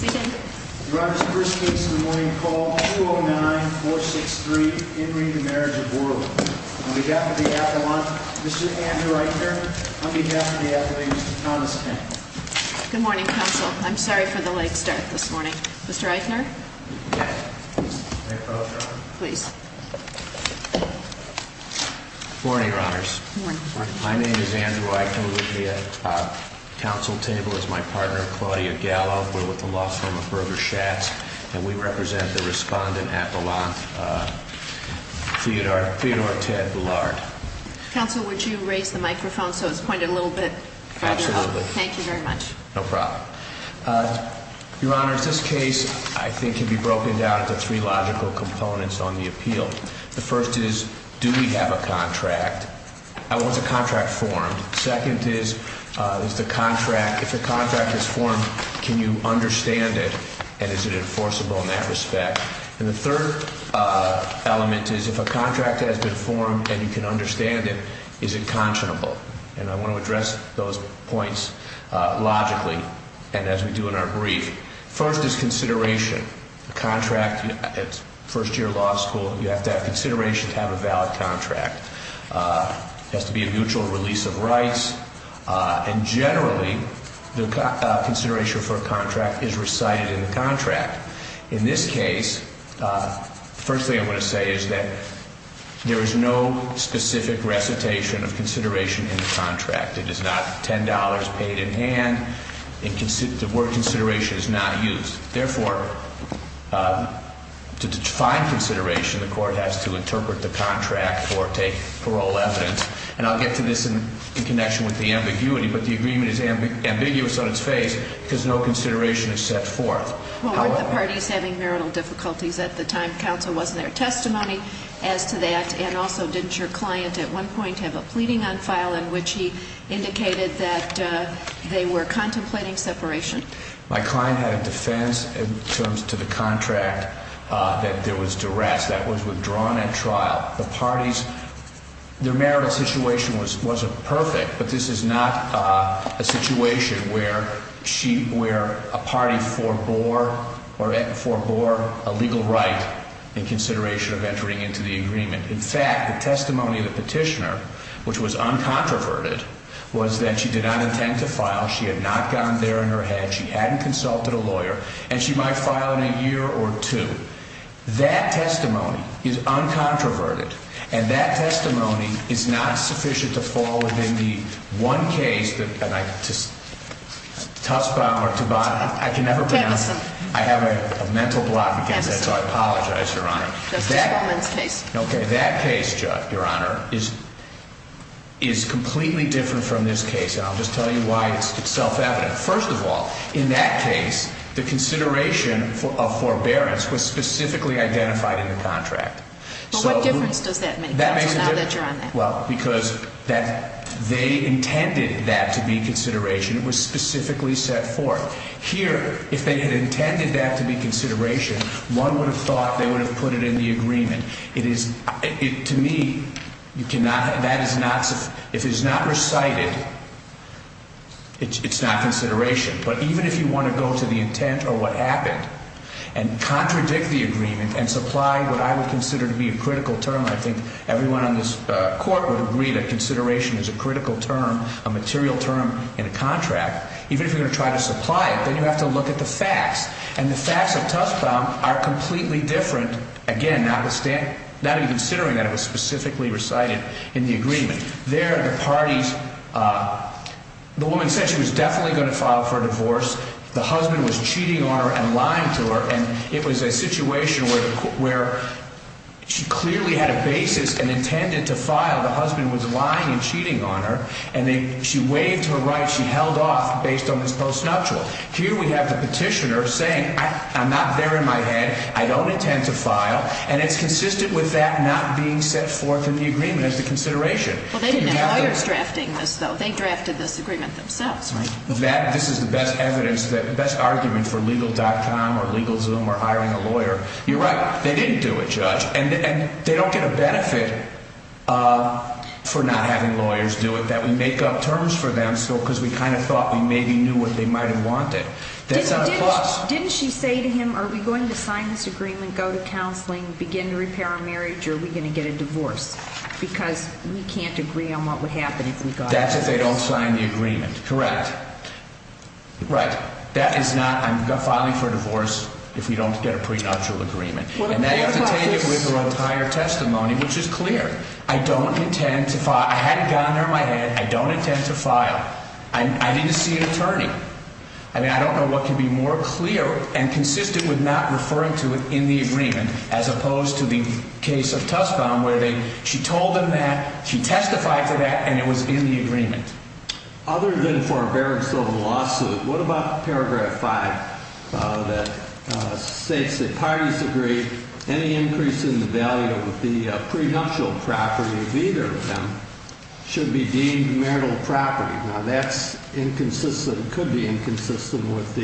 Good morning, Council. I'm sorry for the late start this morning. Mr. Eichner, please. Morning, Your Honors. My name is Andrew Eichner with the Council table. As my partner, Claudia Gallo, we're with the law firm of Berger Schatz, and we represent the respondent at Boulan, Theodore Ted Bellard. Council, would you raise the microphone so it's pointed a little bit further up? Absolutely. Thank you very much. No problem. Your Honors, this case, I think, can be broken down into three logical components on the appeal. The first is, do we have a contract? What's a contract form? Second is, if a contract is formed, can you understand it, and is it enforceable in that respect? And the third element is, if a contract has been formed and you can understand it, is it conscionable? And I want to address those points logically, and as we do in our brief. First is consideration. A contract at first-year law school, you have to have consideration to have a valid contract. It has to be a mutual release of rights, and generally, the consideration for a contract is recited in the contract. In this case, the first thing I want to say is that there is no specific recitation of consideration in the contract. It is not $10 paid in hand, and the word consideration is not used. Therefore, to define consideration, the court has to interpret the contract or take parole evidence. And I'll get to this in connection with the ambiguity, but the agreement is ambiguous on its face because no consideration is set forth. Well, weren't the parties having marital difficulties at the time? Counsel wasn't there. Testimony as to that, and also, didn't your client at one point have a pleading on file in which he indicated that they were contemplating separation? My client had a defense in terms to the contract that there was duress that was withdrawn at trial. The parties, their marital situation wasn't perfect, but this is not a situation where a party forbore a legal right in consideration of entering into the agreement. In fact, the testimony of the petitioner, which was uncontroverted, was that she did not intend to file. She had not gone there in her head. She hadn't consulted a lawyer, and she might file in a year or two. That testimony is uncontroverted, and that testimony is not sufficient to fall within the one case that, and I just, Tussbaum or Tobano, I can never pronounce. Pampason. I have a mental block because of that, so I apologize, Your Honor. Justice Goldman's case. Okay, that case, Judge, Your Honor, is completely different from this case, and I'll just tell you why it's self-evident. First of all, in that case, the consideration of forbearance was specifically identified in the contract. But what difference does that make now that you're on that? Well, because they intended that to be consideration. It was specifically set forth. Here, if they had intended that to be consideration, one would have thought they would have put it in the agreement. It is, to me, you cannot, that is not, if it is not recited, it's not consideration. But even if you want to go to the intent or what happened and contradict the agreement and supply what I would consider to be a critical term, and I think everyone on this Court would agree that consideration is a critical term, a material term in a contract, even if you're going to try to supply it, then you have to look at the facts. And the facts of Tuskbaum are completely different, again, not even considering that it was specifically recited in the agreement. There, the parties, the woman said she was definitely going to file for a divorce. The husband was cheating on her and lying to her, and it was a situation where she clearly had a basis and intended to file. The husband was lying and cheating on her, and she waived her right. She held off based on this post-nuptial. Here we have the petitioner saying, I'm not there in my head, I don't intend to file, and it's consistent with that not being set forth in the agreement as the consideration. Well, they didn't have lawyers drafting this, though. They drafted this agreement themselves, right? This is the best evidence, the best argument for Legal.com or LegalZoom or hiring a lawyer. You're right. They didn't do it, Judge, and they don't get a benefit for not having lawyers do it, that we make up terms for them because we kind of thought we maybe knew what they might have wanted. That's not a clause. Didn't she say to him, are we going to sign this agreement, go to counseling, begin to repair our marriage, or are we going to get a divorce because we can't agree on what would happen if we got a divorce? That's if they don't sign the agreement, correct? Right. That is not, I'm filing for a divorce if we don't get a prenuptial agreement. And now you have to take it with your entire testimony, which is clear. I don't intend to file. I had a gun near my head. I don't intend to file. I didn't see an attorney. I mean, I don't know what could be more clear and consistent with not referring to it in the agreement as opposed to the case of Tuscombe where she told them that, she testified to that, and it was in the agreement. Other than for a barraged civil lawsuit, what about Paragraph 5 that states that parties agree any increase in the value of the prenuptial property of either of them should be deemed marital property? Now, that's inconsistent, could be inconsistent with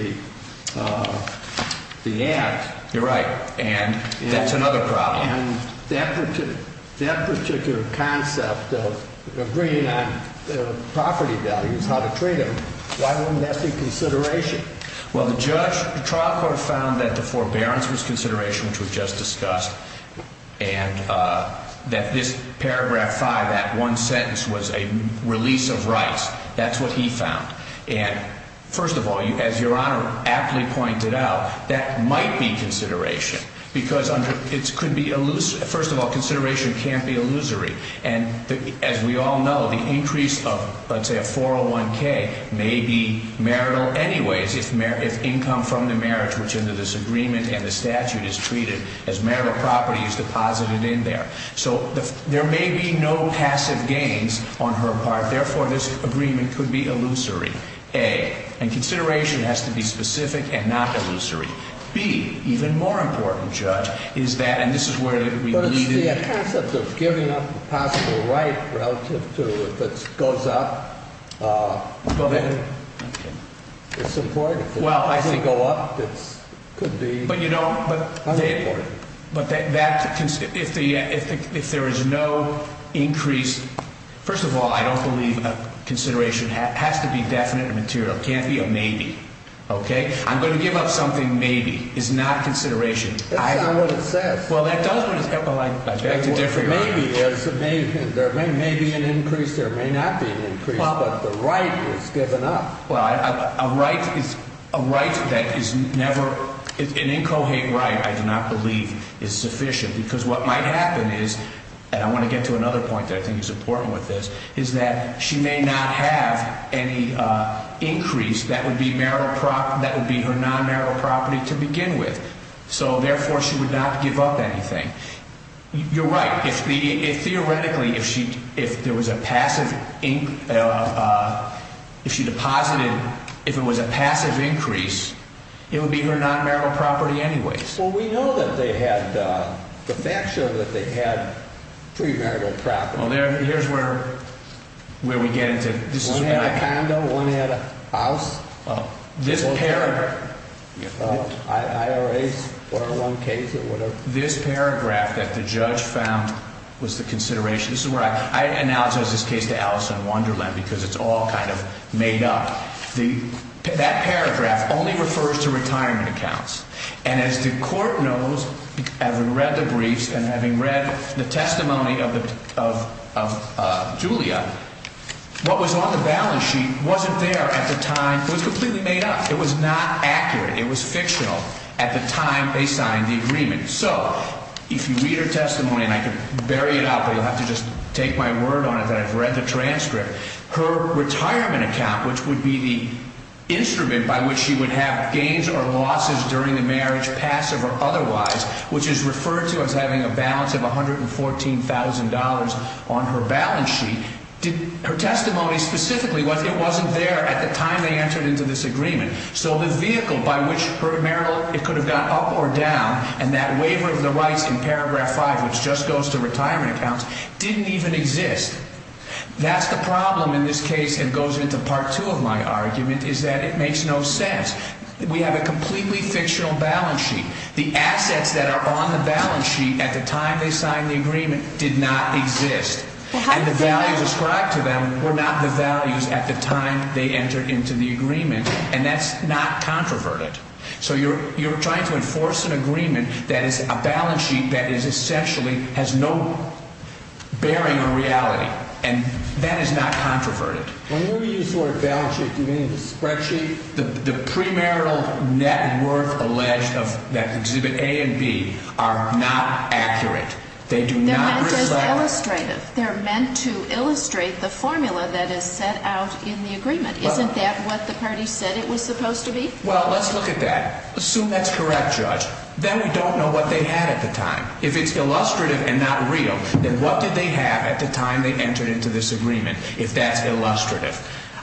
the act. You're right, and that's another problem. And that particular concept of agreeing on property values, how to treat them, why wouldn't that be consideration? Well, the trial court found that the forbearance was consideration, which was just discussed, and that this Paragraph 5, that one sentence, was a release of rights. That's what he found. And first of all, as Your Honor aptly pointed out, that might be consideration because it could be elusive. First of all, consideration can't be illusory. And as we all know, the increase of, let's say, a 401K may be marital anyways if income from the marriage, which under this agreement and the statute is treated as marital property, is deposited in there. So there may be no passive gains on her part. Therefore, this agreement could be illusory, A. And consideration has to be specific and not illusory. B, even more important, Judge, is that, and this is where we need to be. The concept of giving up a possible right relative to if it goes up, then it's important. Well, I see. If it doesn't go up, it could be unimportant. But that, if there is no increase, first of all, I don't believe a consideration has to be definite and material. It can't be a maybe. Okay? I'm going to give up something maybe. It's not consideration. That's not what it says. Well, that does what it says. Maybe there's an increase. There may not be an increase. But the right is given up. Well, a right that is never, an incoherent right, I do not believe, is sufficient. Because what might happen is, and I want to get to another point that I think is important with this, is that she may not have any increase that would be her non-marital property to begin with. So, therefore, she would not give up anything. You're right. Theoretically, if there was a passive, if she deposited, if it was a passive increase, it would be her non-marital property anyways. Well, we know that they had, the facts show that they had pre-marital property. Well, here's where we get into, this is where I. One had a condo. One had a house. IRAs, 401Ks, or whatever. This paragraph that the judge found was the consideration. This is where I, I analogize this case to Alice in Wonderland because it's all kind of made up. That paragraph only refers to retirement accounts. And as the court knows, having read the briefs and having read the testimony of Julia, what was on the balance sheet wasn't there at the time. It was completely made up. It was not accurate. It was fictional at the time they signed the agreement. So, if you read her testimony, and I could bury it out, but you'll have to just take my word on it that I've read the transcript. Her retirement account, which would be the instrument by which she would have gains or losses during the marriage, passive or otherwise, which is referred to as having a balance of $114,000 on her balance sheet, her testimony specifically, it wasn't there at the time they entered into this agreement. So, the vehicle by which her marital, it could have gone up or down, and that waiver of the rights in paragraph five, which just goes to retirement accounts, didn't even exist. That's the problem in this case, and goes into part two of my argument, is that it makes no sense. We have a completely fictional balance sheet. The assets that are on the balance sheet at the time they signed the agreement did not exist, and the values ascribed to them were not the values at the time they entered into the agreement, and that's not controverted. So, you're trying to enforce an agreement that is a balance sheet that essentially has no bearing on reality, and that is not controverted. When you use the word balance sheet, do you mean spreadsheet? The premarital net worth alleged of that exhibit A and B are not accurate. They do not reflect. No, it says illustrative. They're meant to illustrate the formula that is set out in the agreement. Isn't that what the parties said it was supposed to be? Well, let's look at that. Assume that's correct, Judge. Then we don't know what they had at the time. If it's illustrative and not real, then what did they have at the time they entered into this agreement, if that's illustrative?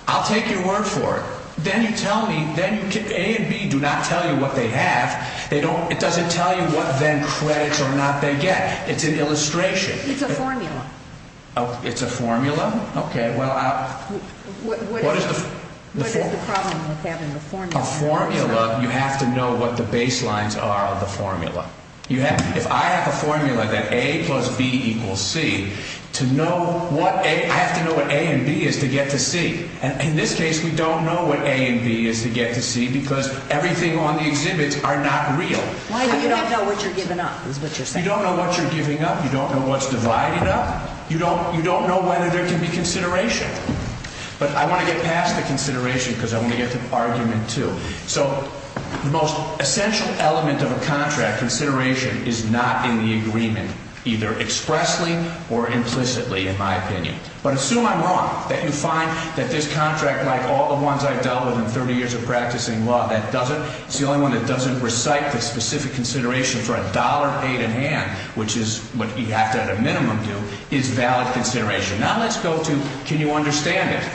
I'll take your word for it. Then you tell me A and B do not tell you what they have. It doesn't tell you what then credits or not they get. It's an illustration. It's a formula. It's a formula? Okay. What is the problem with having a formula? A formula, you have to know what the baselines are of the formula. If I have a formula that A plus B equals C, I have to know what A and B is to get to C. And in this case, we don't know what A and B is to get to C because everything on the exhibits are not real. Why do you not know what you're giving up is what you're saying? You don't know what you're giving up. You don't know what's divided up. You don't know whether there can be consideration. But I want to get past the consideration because I want to get to argument two. So the most essential element of a contract, consideration, is not in the agreement, either expressly or implicitly, in my opinion. But assume I'm wrong, that you find that this contract, like all the ones I've dealt with in 30 years of practicing law, that doesn't. It's the only one that doesn't recite the specific consideration for a dollar paid in hand, which is what you have to at a minimum do, is valid consideration. Now, let's go to can you understand it.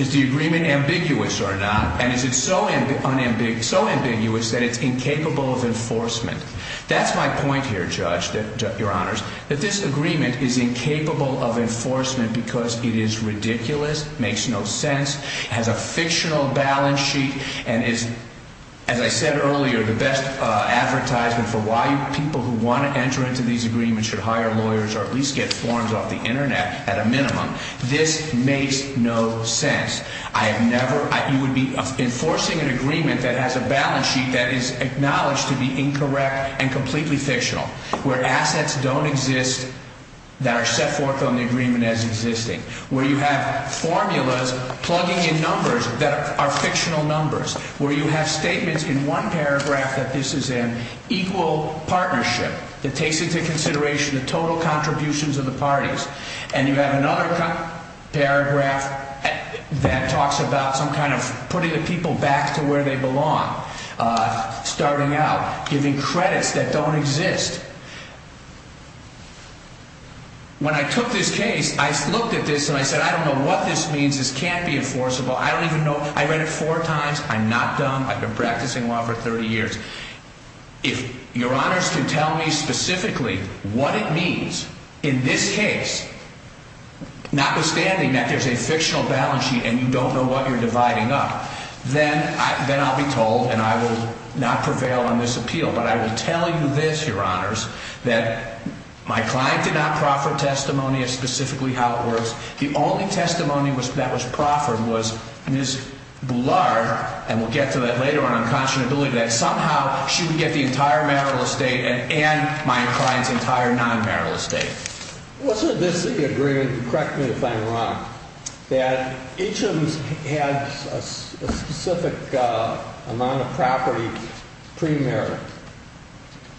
Is the agreement ambiguous or not? And is it so ambiguous that it's incapable of enforcement? That's my point here, Judge, Your Honors, that this agreement is incapable of enforcement because it is ridiculous, makes no sense, has a fictional balance sheet, and is, as I said earlier, the best advertisement for why people who want to enter into these agreements should hire lawyers or at least get forms off the Internet at a minimum. This makes no sense. You would be enforcing an agreement that has a balance sheet that is acknowledged to be incorrect and completely fictional, where assets don't exist that are set forth on the agreement as existing, where you have formulas plugging in numbers that are fictional numbers, where you have statements in one paragraph that this is an equal partnership that takes into consideration the total contributions of the parties. And you have another paragraph that talks about some kind of putting the people back to where they belong, starting out, giving credits that don't exist. When I took this case, I looked at this and I said, I don't know what this means. This can't be enforceable. I don't even know. I read it four times. I'm not dumb. I've been practicing law for 30 years. If Your Honors can tell me specifically what it means in this case, notwithstanding that there's a fictional balance sheet and you don't know what you're dividing up, then I'll be told, and I will not prevail on this appeal, but I will tell you this, Your Honors, that my client did not proffer testimony of specifically how it works. The only testimony that was proffered was Ms. Boulard, and we'll get to that later on in conscionability, that somehow she would get the entire marital estate and my client's entire non-marital estate. Wasn't this the agreement, correct me if I'm wrong, that each of them had a specific amount of property pre-marital,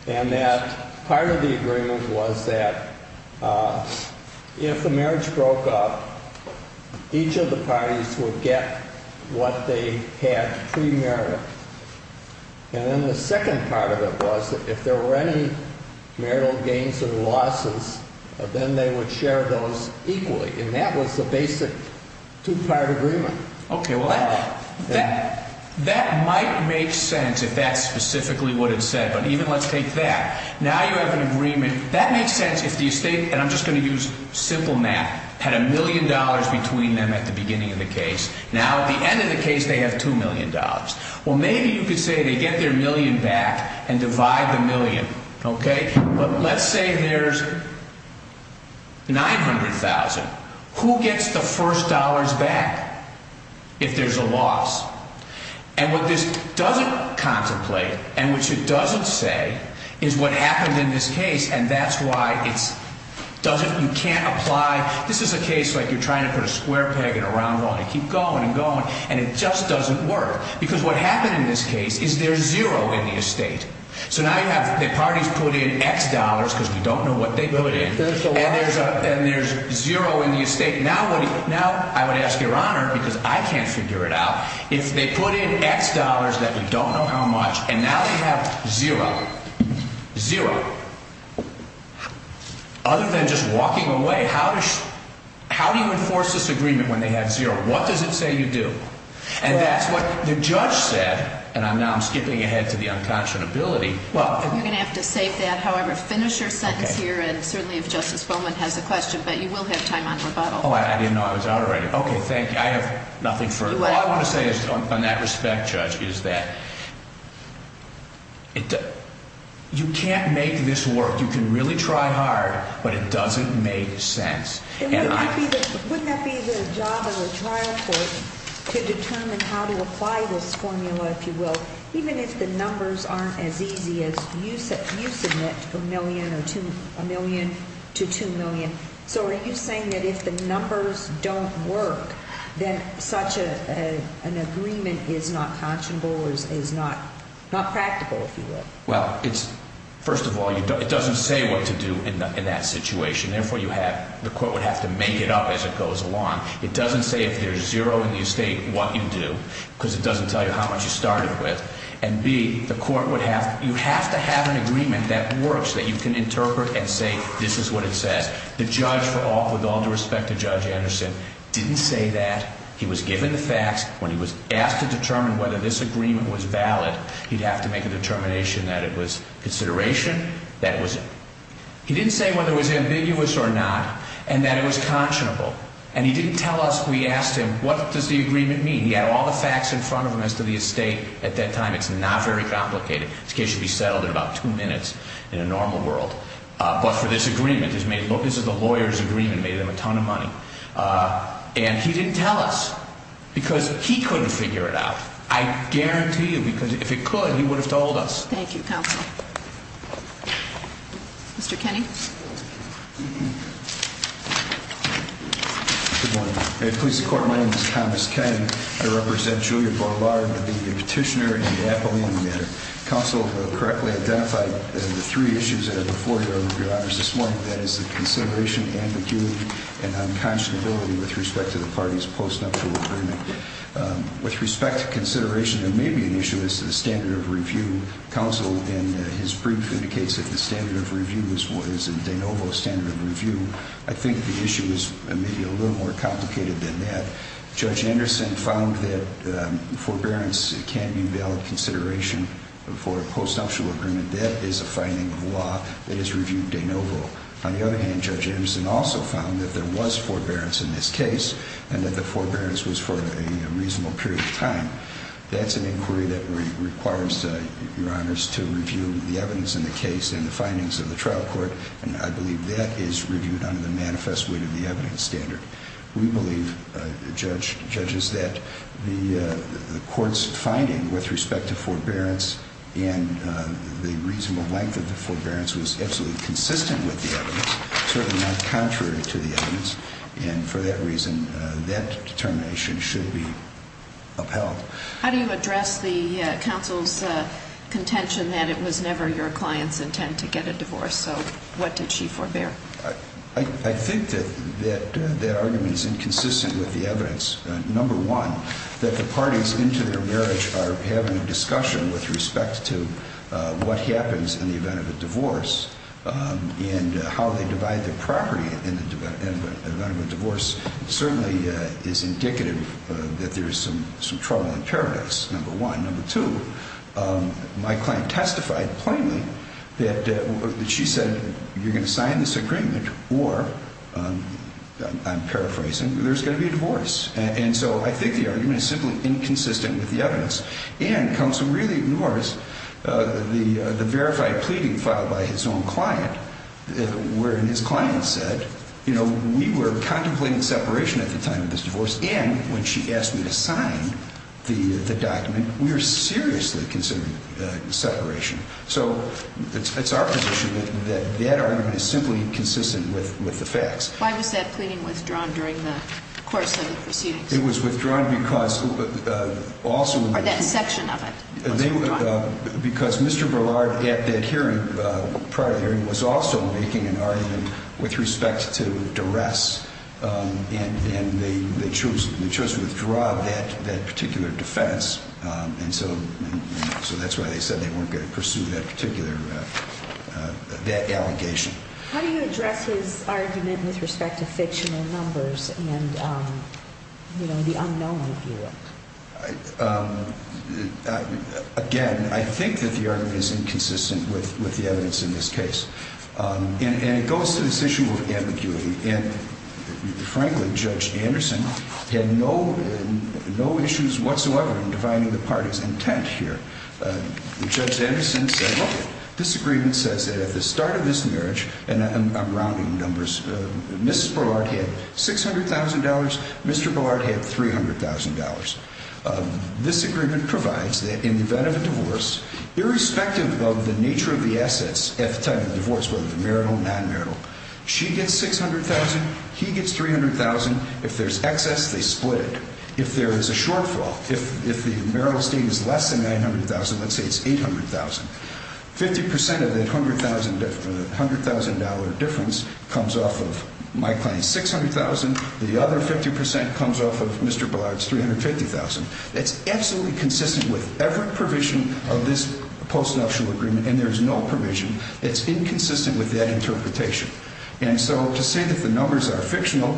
and that part of the agreement was that if the marriage broke up, each of the parties would get what they had pre-marital. And then the second part of it was that if there were any marital gains or losses, then they would share those equally, and that was the basic two-part agreement. Okay, well, that might make sense if that's specifically what it said, but even let's take that. Now you have an agreement. That makes sense if the estate, and I'm just going to use simple math, had a million dollars between them at the beginning of the case. Now at the end of the case, they have $2 million. Well, maybe you could say they get their million back and divide the million, okay? But let's say there's $900,000. Who gets the first dollars back if there's a loss? And what this doesn't contemplate, and which it doesn't say, is what happened in this case, and that's why it doesn't, you can't apply. This is a case like you're trying to put a square peg in a round one and keep going and going, and it just doesn't work. Because what happened in this case is there's zero in the estate. So now you have the parties put in X dollars, because we don't know what they put in, and there's zero in the estate. Now I would ask your honor, because I can't figure it out, if they put in X dollars that we don't know how much, and now you have zero. Zero. Other than just walking away, how do you enforce this agreement when they have zero? What does it say you do? And that's what the judge said, and now I'm skipping ahead to the unconscionability. You're going to have to save that, however. Finish your sentence here, and certainly if Justice Bowman has a question, but you will have time on rebuttal. Oh, I didn't know I was out already. Okay, thank you. I have nothing further. All I want to say on that respect, Judge, is that you can't make this work. You can really try hard, but it doesn't make sense. Wouldn't that be the job of a trial court to determine how to apply this formula, if you will, even if the numbers aren't as easy as you submit a million to 2 million? So are you saying that if the numbers don't work, then such an agreement is not conscionable or is not practical, if you will? Well, first of all, it doesn't say what to do in that situation. Therefore, the court would have to make it up as it goes along. It doesn't say if there's zero in the estate what you do because it doesn't tell you how much you started with. And, B, the court would have to have an agreement that works that you can interpret and say this is what it says. The judge, with all due respect to Judge Anderson, didn't say that. He was given the facts. When he was asked to determine whether this agreement was valid, he'd have to make a determination that it was consideration. He didn't say whether it was ambiguous or not and that it was conscionable. And he didn't tell us. We asked him, what does the agreement mean? He had all the facts in front of him as to the estate at that time. It's not very complicated. This case should be settled in about two minutes in a normal world. But for this agreement, this is the lawyer's agreement, made them a ton of money. And he didn't tell us because he couldn't figure it out. I guarantee you, because if he could, he would have told us. Thank you, Counsel. Mr. Kenney? Good morning. Police Department. My name is Thomas Kenney. I represent Julia Borlaug, the petitioner and the appellee on the matter. Counsel correctly identified the three issues that are before you, Your Honors, this morning. That is the consideration, ambiguity, and unconscionability with respect to the party's postnuptial agreement. With respect to consideration, there may be an issue as to the standard of review. Counsel, in his brief, indicates that the standard of review is a de novo standard of review. I think the issue is maybe a little more complicated than that. Judge Anderson found that forbearance can be a valid consideration for a postnuptial agreement. That is a finding of law that is reviewed de novo. On the other hand, Judge Anderson also found that there was forbearance in this case and that the forbearance was for a reasonable period of time. That's an inquiry that requires, Your Honors, to review the evidence in the case and the findings of the trial court, and I believe that is reviewed under the manifest weight of the evidence standard. We believe, judges, that the court's finding with respect to forbearance and the reasonable length of the forbearance was absolutely consistent with the evidence, certainly not contrary to the evidence, and for that reason, that determination should be upheld. How do you address the counsel's contention that it was never your client's intent to get a divorce? So what did she forbear? I think that that argument is inconsistent with the evidence. Number one, that the parties into their marriage are having a discussion with respect to what happens in the event of a divorce and how they divide their property in the event of a divorce certainly is indicative that there is some trouble in paradise, number one. Number two, my client testified plainly that she said you're going to sign this agreement or, I'm paraphrasing, there's going to be a divorce. And so I think the argument is simply inconsistent with the evidence. And counsel really ignores the verified pleading filed by his own client, wherein his client said, you know, we were contemplating separation at the time of this divorce and when she asked me to sign the document, we were seriously considering separation. So it's our position that that argument is simply inconsistent with the facts. Why was that pleading withdrawn during the course of the proceedings? It was withdrawn because also... Or that section of it was withdrawn. Because Mr. Verlard at that hearing, prior hearing, was also making an argument with respect to duress and they chose to withdraw that particular defense. And so that's why they said they weren't going to pursue that particular, that allegation. How do you address his argument with respect to fictional numbers and, you know, the unknown view? Again, I think that the argument is inconsistent with the evidence in this case. And it goes to this issue of ambiguity. And, frankly, Judge Anderson had no issues whatsoever in defining the parties' intent here. Judge Anderson said, look, this agreement says that at the start of this marriage, and I'm rounding numbers, Mrs. Verlard had $600,000. Mr. Verlard had $300,000. This agreement provides that in the event of a divorce, irrespective of the nature of the assets at the time of the divorce, whether marital, non-marital, she gets $600,000, he gets $300,000. If there's excess, they split it. If there is a shortfall, if the marital estate is less than $900,000, let's say it's $800,000, 50% of that $100,000 difference comes off of my client's $600,000. The other 50% comes off of Mr. Verlard's $350,000. It's absolutely consistent with every provision of this postnuptial agreement, and there is no provision. It's inconsistent with that interpretation. And so to say that the numbers are fictional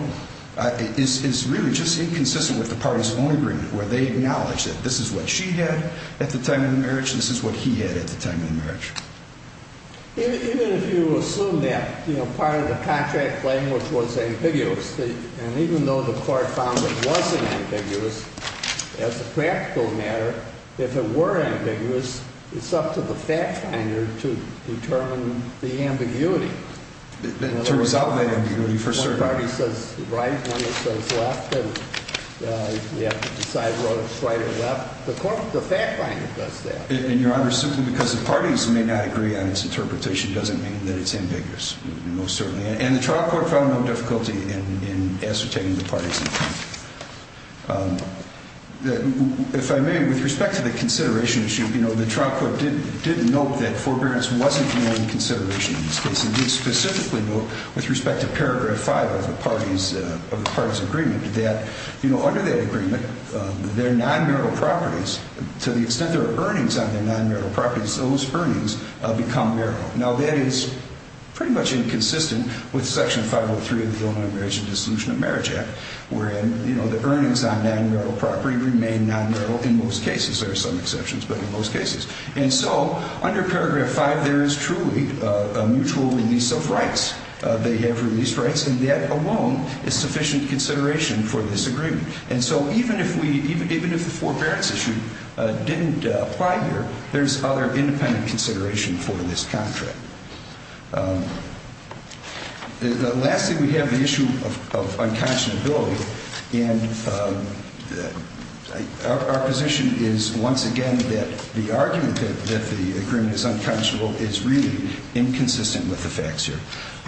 is really just inconsistent with the parties' own agreement, where they acknowledge that this is what she had at the time of the marriage, and this is what he had at the time of the marriage. Even if you assume that part of the contract language was ambiguous, and even though the court found it wasn't ambiguous as a practical matter, if it were ambiguous, it's up to the fact finder to determine the ambiguity. To resolve the ambiguity for certain. One party says right, one party says left, and we have to decide whether it's right or left. The fact finder does that. And, Your Honor, simply because the parties may not agree on its interpretation doesn't mean that it's ambiguous. Most certainly. And the trial court found no difficulty in ascertaining the parties. If I may, with respect to the consideration issue, the trial court did note that forbearance wasn't the only consideration in this case. It did specifically note, with respect to Paragraph 5 of the parties' agreement, that under that agreement, their non-marital properties, to the extent there are earnings on their non-marital properties, those earnings become marital. Now, that is pretty much inconsistent with Section 503 of the Illinois Marriage and Dissolution of Marriage Act, wherein the earnings on non-marital property remain non-marital in most cases. There are some exceptions, but in most cases. And so under Paragraph 5, there is truly a mutual release of rights. They have released rights, and that alone is sufficient consideration for this agreement. And so even if the forbearance issue didn't apply here, there's other independent consideration for this contract. Lastly, we have the issue of unconscionability. And our position is, once again, that the argument that the agreement is unconscionable is really inconsistent with the facts here.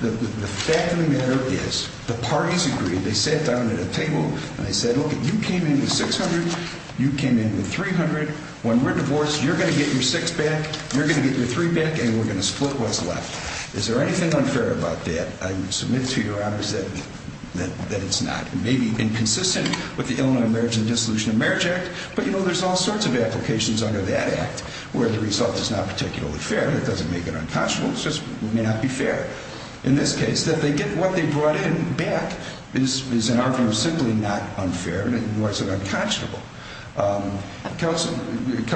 The fact of the matter is the parties agreed. They sat down at a table, and they said, look, you came in with $600, you came in with $300. When we're divorced, you're going to get your $600 back, you're going to get your $300 back, and we're going to split what's left. Is there anything unfair about that? I submit to your honors that it's not. It may be inconsistent with the Illinois Marriage and Dissolution of Marriage Act, but, you know, there's all sorts of applications under that act where the result is not particularly fair. It doesn't make it unconscionable. It just may not be fair. In this case, what they brought in back is, in our view, simply not unfair, and it wasn't unconscionable. Counsel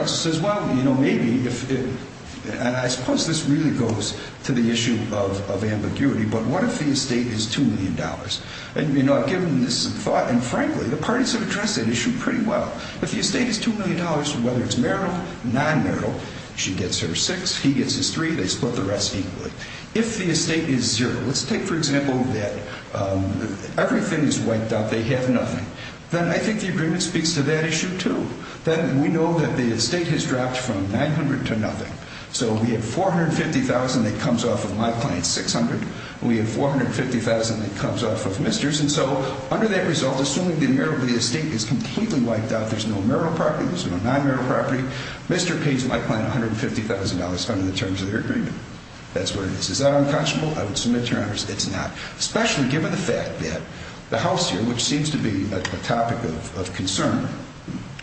says, well, you know, maybe, and I suppose this really goes to the issue of ambiguity, but what if the estate is $2 million? And, you know, I've given this some thought, and frankly, the parties have addressed that issue pretty well. If the estate is $2 million, whether it's marital, non-marital, she gets her six, he gets his three, they split the rest equally. If the estate is zero, let's take, for example, that everything is wiped out, they have nothing, then I think the agreement speaks to that issue, too, that we know that the estate has dropped from 900 to nothing. So we have $450,000 that comes off of my client's $600,000, and we have $450,000 that comes off of Mr.'s, and so under that result, assuming the estate is completely wiped out, there's no marital property, there's no non-marital property, Mr. pays my client $150,000 under the terms of the agreement. That's where it is. Is that unconscionable? I would submit to your honors it's not, especially given the fact that the house here, which seems to be a topic of concern,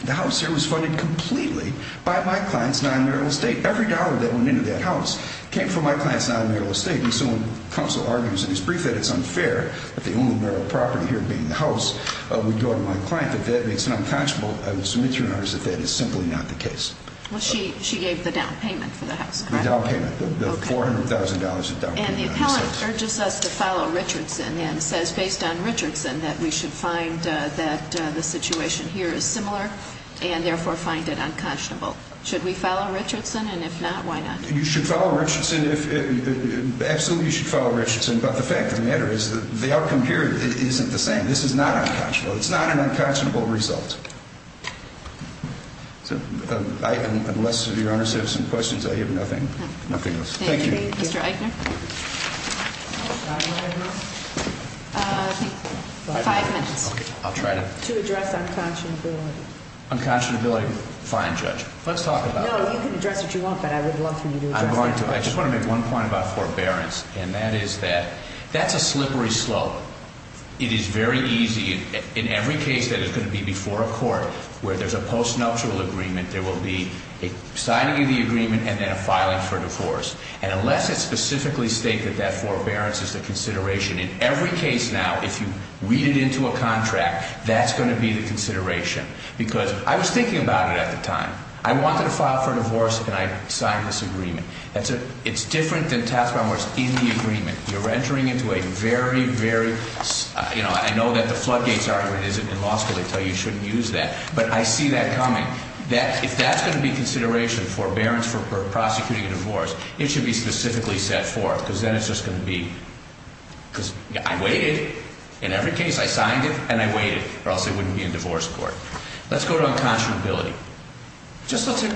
the house here was funded completely by my client's non-marital estate. Every dollar that went into that house came from my client's non-marital estate, and so when counsel argues in his brief that it's unfair that the only marital property here being the house would go to my client, that that makes it unconscionable, I would submit to your honors that that is simply not the case. Well, she gave the down payment for the house. And the appellant urges us to follow Richardson and says, based on Richardson, that we should find that the situation here is similar and, therefore, find it unconscionable. Should we follow Richardson, and if not, why not? You should follow Richardson, absolutely you should follow Richardson, but the fact of the matter is that the outcome here isn't the same. This is not unconscionable. It's not an unconscionable result. Unless your honors have some questions, I have nothing else. Thank you. Mr. Eichner? Five minutes. Okay, I'll try to. To address unconscionability. Unconscionability, fine, Judge. Let's talk about it. No, you can address it if you want, but I would love for you to address it. I'm going to. I just want to make one point about forbearance, and that is that that's a slippery slope. It is very easy. In every case that is going to be before a court where there's a post-nuptial agreement, there will be a signing of the agreement and then a filing for divorce. And unless it's specifically stated that that forbearance is the consideration, in every case now, if you read it into a contract, that's going to be the consideration. Because I was thinking about it at the time. I wanted to file for divorce, and I signed this agreement. It's different than task by where it's in the agreement. You're entering into a very, very, you know, I know that the floodgates argument isn't in law school. They tell you you shouldn't use that, but I see that coming. If that's going to be consideration, forbearance for prosecuting a divorce, it should be specifically set forth, because then it's just going to be, because I waited. In every case, I signed it and I waited, or else it wouldn't be in divorce court. Let's go to unconscionability. Just look at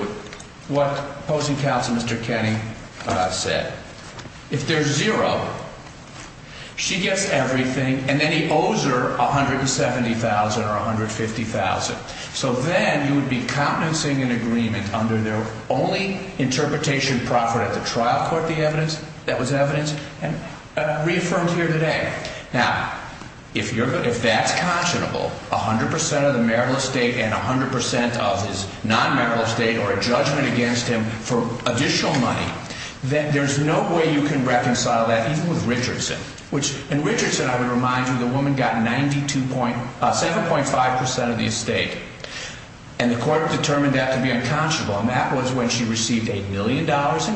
what opposing counsel Mr. Kenney said. If there's zero, she gets everything, and then he owes her $170,000 or $150,000. So then you would be countenancing an agreement under their only interpretation proffered at the trial court, the evidence that was evidenced and reaffirmed here today. Now, if that's conscionable, 100% of the marital estate and 100% of his non-marital estate or a judgment against him for additional money, then there's no way you can reconcile that even with Richardson. In Richardson, I would remind you, the woman got 7.5% of the estate, and the court determined that to be unconscionable, and that was when she received $8 million in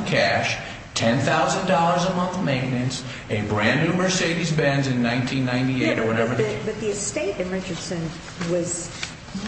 cash, $10,000 a month maintenance, a brand-new Mercedes-Benz in 1998 or whatever. But the estate in Richardson was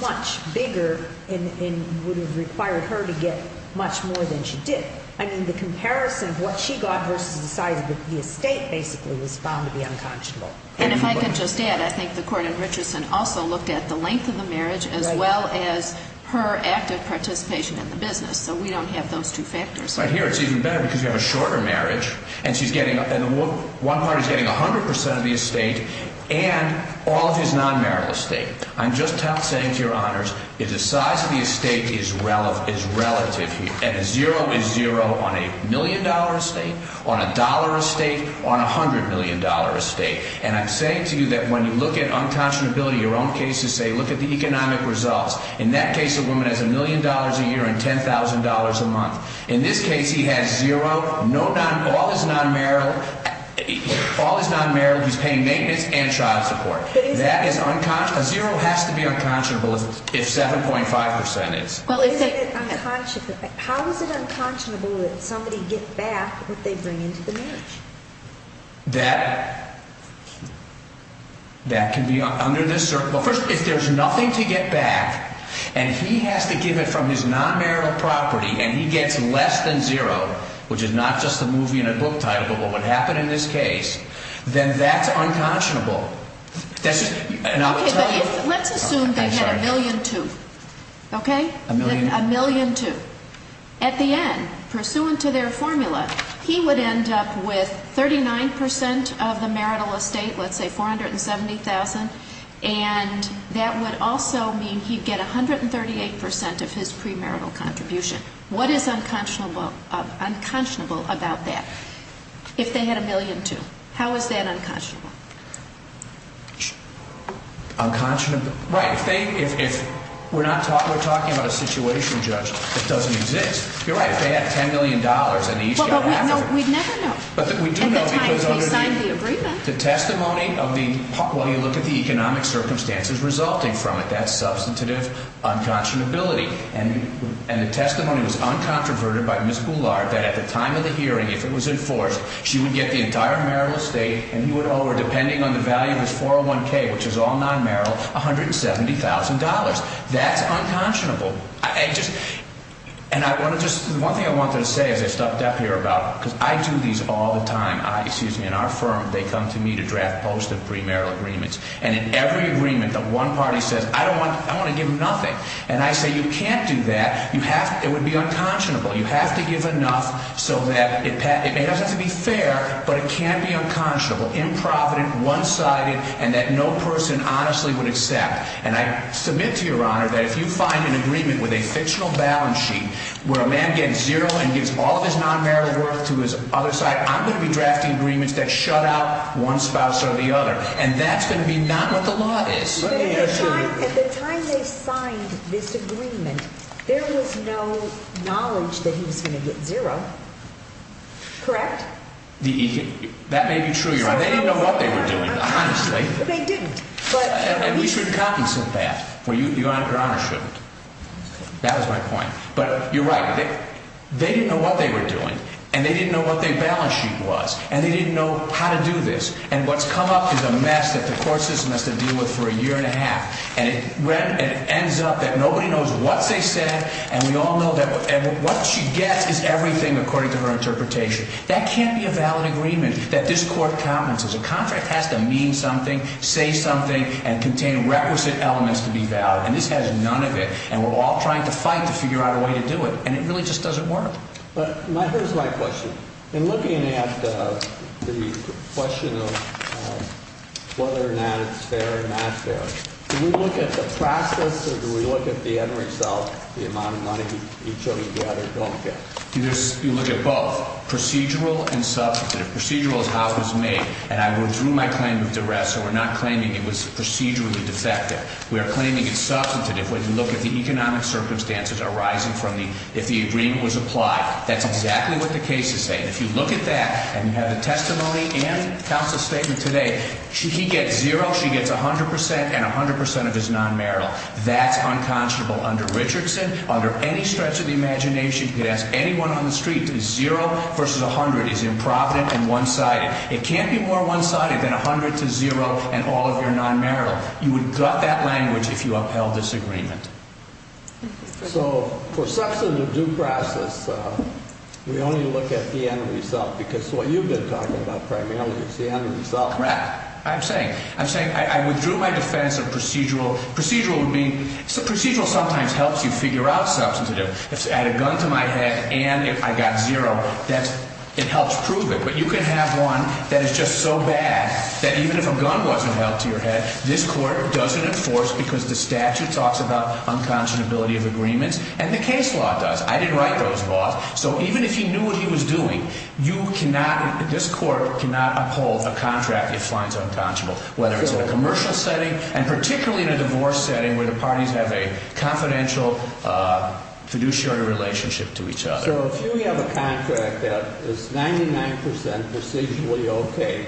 much bigger and would have required her to get much more than she did. I mean, the comparison of what she got versus the size of the estate basically was found to be unconscionable. And if I could just add, I think the court in Richardson also looked at the length of the marriage as well as her active participation in the business. So we don't have those two factors. Right here, it's even better because you have a shorter marriage, and she's getting up and one part is getting 100% of the estate and all of his non-marital estate. I'm just saying to your honors, the size of the estate is relative. Zero is zero on a million-dollar estate, on a dollar estate, on a hundred-million-dollar estate. And I'm saying to you that when you look at unconscionability, your own cases say, look at the economic results. In that case, the woman has a million dollars a year and $10,000 a month. In this case, he has zero. All his non-marital, he's paying maintenance and child support. A zero has to be unconscionable if 7.5% is. How is it unconscionable that somebody gets back what they bring into the marriage? That can be under this circle. First, if there's nothing to get back and he has to give it from his non-marital property and he gets less than zero, which is not just a movie and a book title, but what would happen in this case, then that's unconscionable. Let's assume they had a million-two, okay? A million-two. At the end, pursuant to their formula, he would end up with 39% of the marital estate, let's say $470,000, and that would also mean he'd get 138% of his premarital contribution. What is unconscionable about that? If they had a million-two, how is that unconscionable? Unconscionable, right. If we're talking about a situation, Judge, that doesn't exist, you're right. If they had $10 million and each got half of it. But we'd never know. But we do know because under the testimony of the, when you look at the economic circumstances resulting from it, that's substantive unconscionability. And the testimony was uncontroverted by Ms. Boulard that at the time of the hearing, if it was enforced, she would get the entire marital estate, and he would owe her, depending on the value of his 401K, which is all non-marital, $170,000. That's unconscionable. And I want to just, the one thing I wanted to say as I stepped up here about, because I do these all the time, excuse me, in our firm, they come to me to draft post of premarital agreements. And in every agreement, the one party says, I don't want, I want to give them nothing. And I say, you can't do that. You have to, it would be unconscionable. You have to give enough so that it may not have to be fair, but it can't be unconscionable. Improvident, one-sided, and that no person honestly would accept. And I submit to your honor that if you find an agreement with a fictional balance sheet, where a man gets zero and gives all of his non-marital worth to his other side, I'm going to be drafting agreements that shut out one spouse or the other. And that's going to be not what the law is. At the time they signed this agreement, there was no knowledge that he was going to get zero. Correct? That may be true, your honor. They didn't know what they were doing, honestly. They didn't. And we should compensate that. Your honor shouldn't. That was my point. But you're right. They didn't know what they were doing. And they didn't know what their balance sheet was. And they didn't know how to do this. And what's come up is a mess that the court system has to deal with for a year and a half. And it ends up that nobody knows what they said. And we all know that what she gets is everything according to her interpretation. That can't be a valid agreement that this court compensates. A contract has to mean something, say something, and contain requisite elements to be valid. And this has none of it. And we're all trying to fight to figure out a way to do it. And it really just doesn't work. But here's my question. In looking at the question of whether or not it's fair or not fair, do we look at the process or do we look at the end result, the amount of money each of us gather don't get? You look at both, procedural and substantive. Procedural is how it was made. And I withdrew my claim of duress, so we're not claiming it was procedurally defective. We are claiming it's substantive. When you look at the economic circumstances arising from the, if the agreement was applied, that's exactly what the case is saying. If you look at that and you have the testimony and counsel's statement today, he gets zero, she gets 100%, and 100% of his non-marital. That's unconscionable under Richardson, under any stretch of the imagination. You could ask anyone on the street. Zero versus 100 is improvident and one-sided. It can't be more one-sided than 100 to zero and all of your non-marital. You would gut that language if you upheld this agreement. So for substantive due process, we only look at the end result because what you've been talking about primarily is the end result. Right. I'm saying, I'm saying I withdrew my defense of procedural. Procedural would be, procedural sometimes helps you figure out substantive. If I had a gun to my head and I got zero, that's, it helps prove it. But you can have one that is just so bad that even if a gun wasn't held to your head, this court doesn't enforce because the statute talks about unconscionability of agreements and the case law does. I didn't write those laws. So even if you knew what he was doing, you cannot, this court cannot uphold a contract if finds unconscionable, whether it's in a commercial setting and particularly in a divorce setting where the parties have a confidential fiduciary relationship to each other. So if you have a contract that is 99% procedurally okay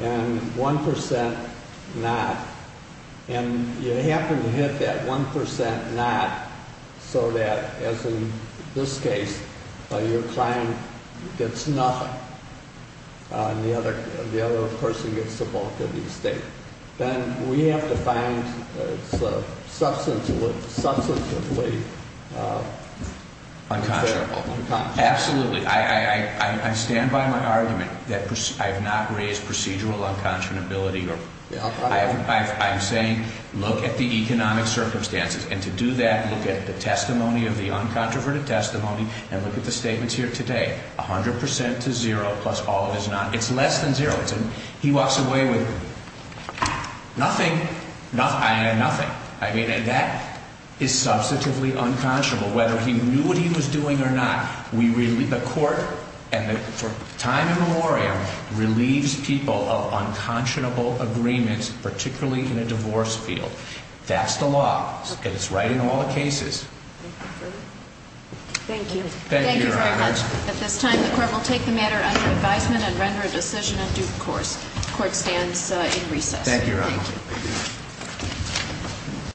and 1% not, and you happen to hit that 1% not so that, as in this case, your client gets nothing and the other person gets the bulk of the estate, then we have to find substantively unconscionable. Absolutely. I stand by my argument that I have not raised procedural unconscionability. I'm saying look at the economic circumstances. And to do that, look at the testimony of the uncontroverted testimony and look at the statements here today. 100% to zero plus all of his not, it's less than zero. He walks away with nothing, nothing. I mean that is substantively unconscionable. Whether he knew what he was doing or not, the court and for time immemorial relieves people of unconscionable agreements, particularly in a divorce field. That's the law and it's right in all the cases. Thank you. Thank you very much. At this time the court will take the matter under advisement and render a decision at due course. Court stands in recess. Thank you, Your Honor. Thank you.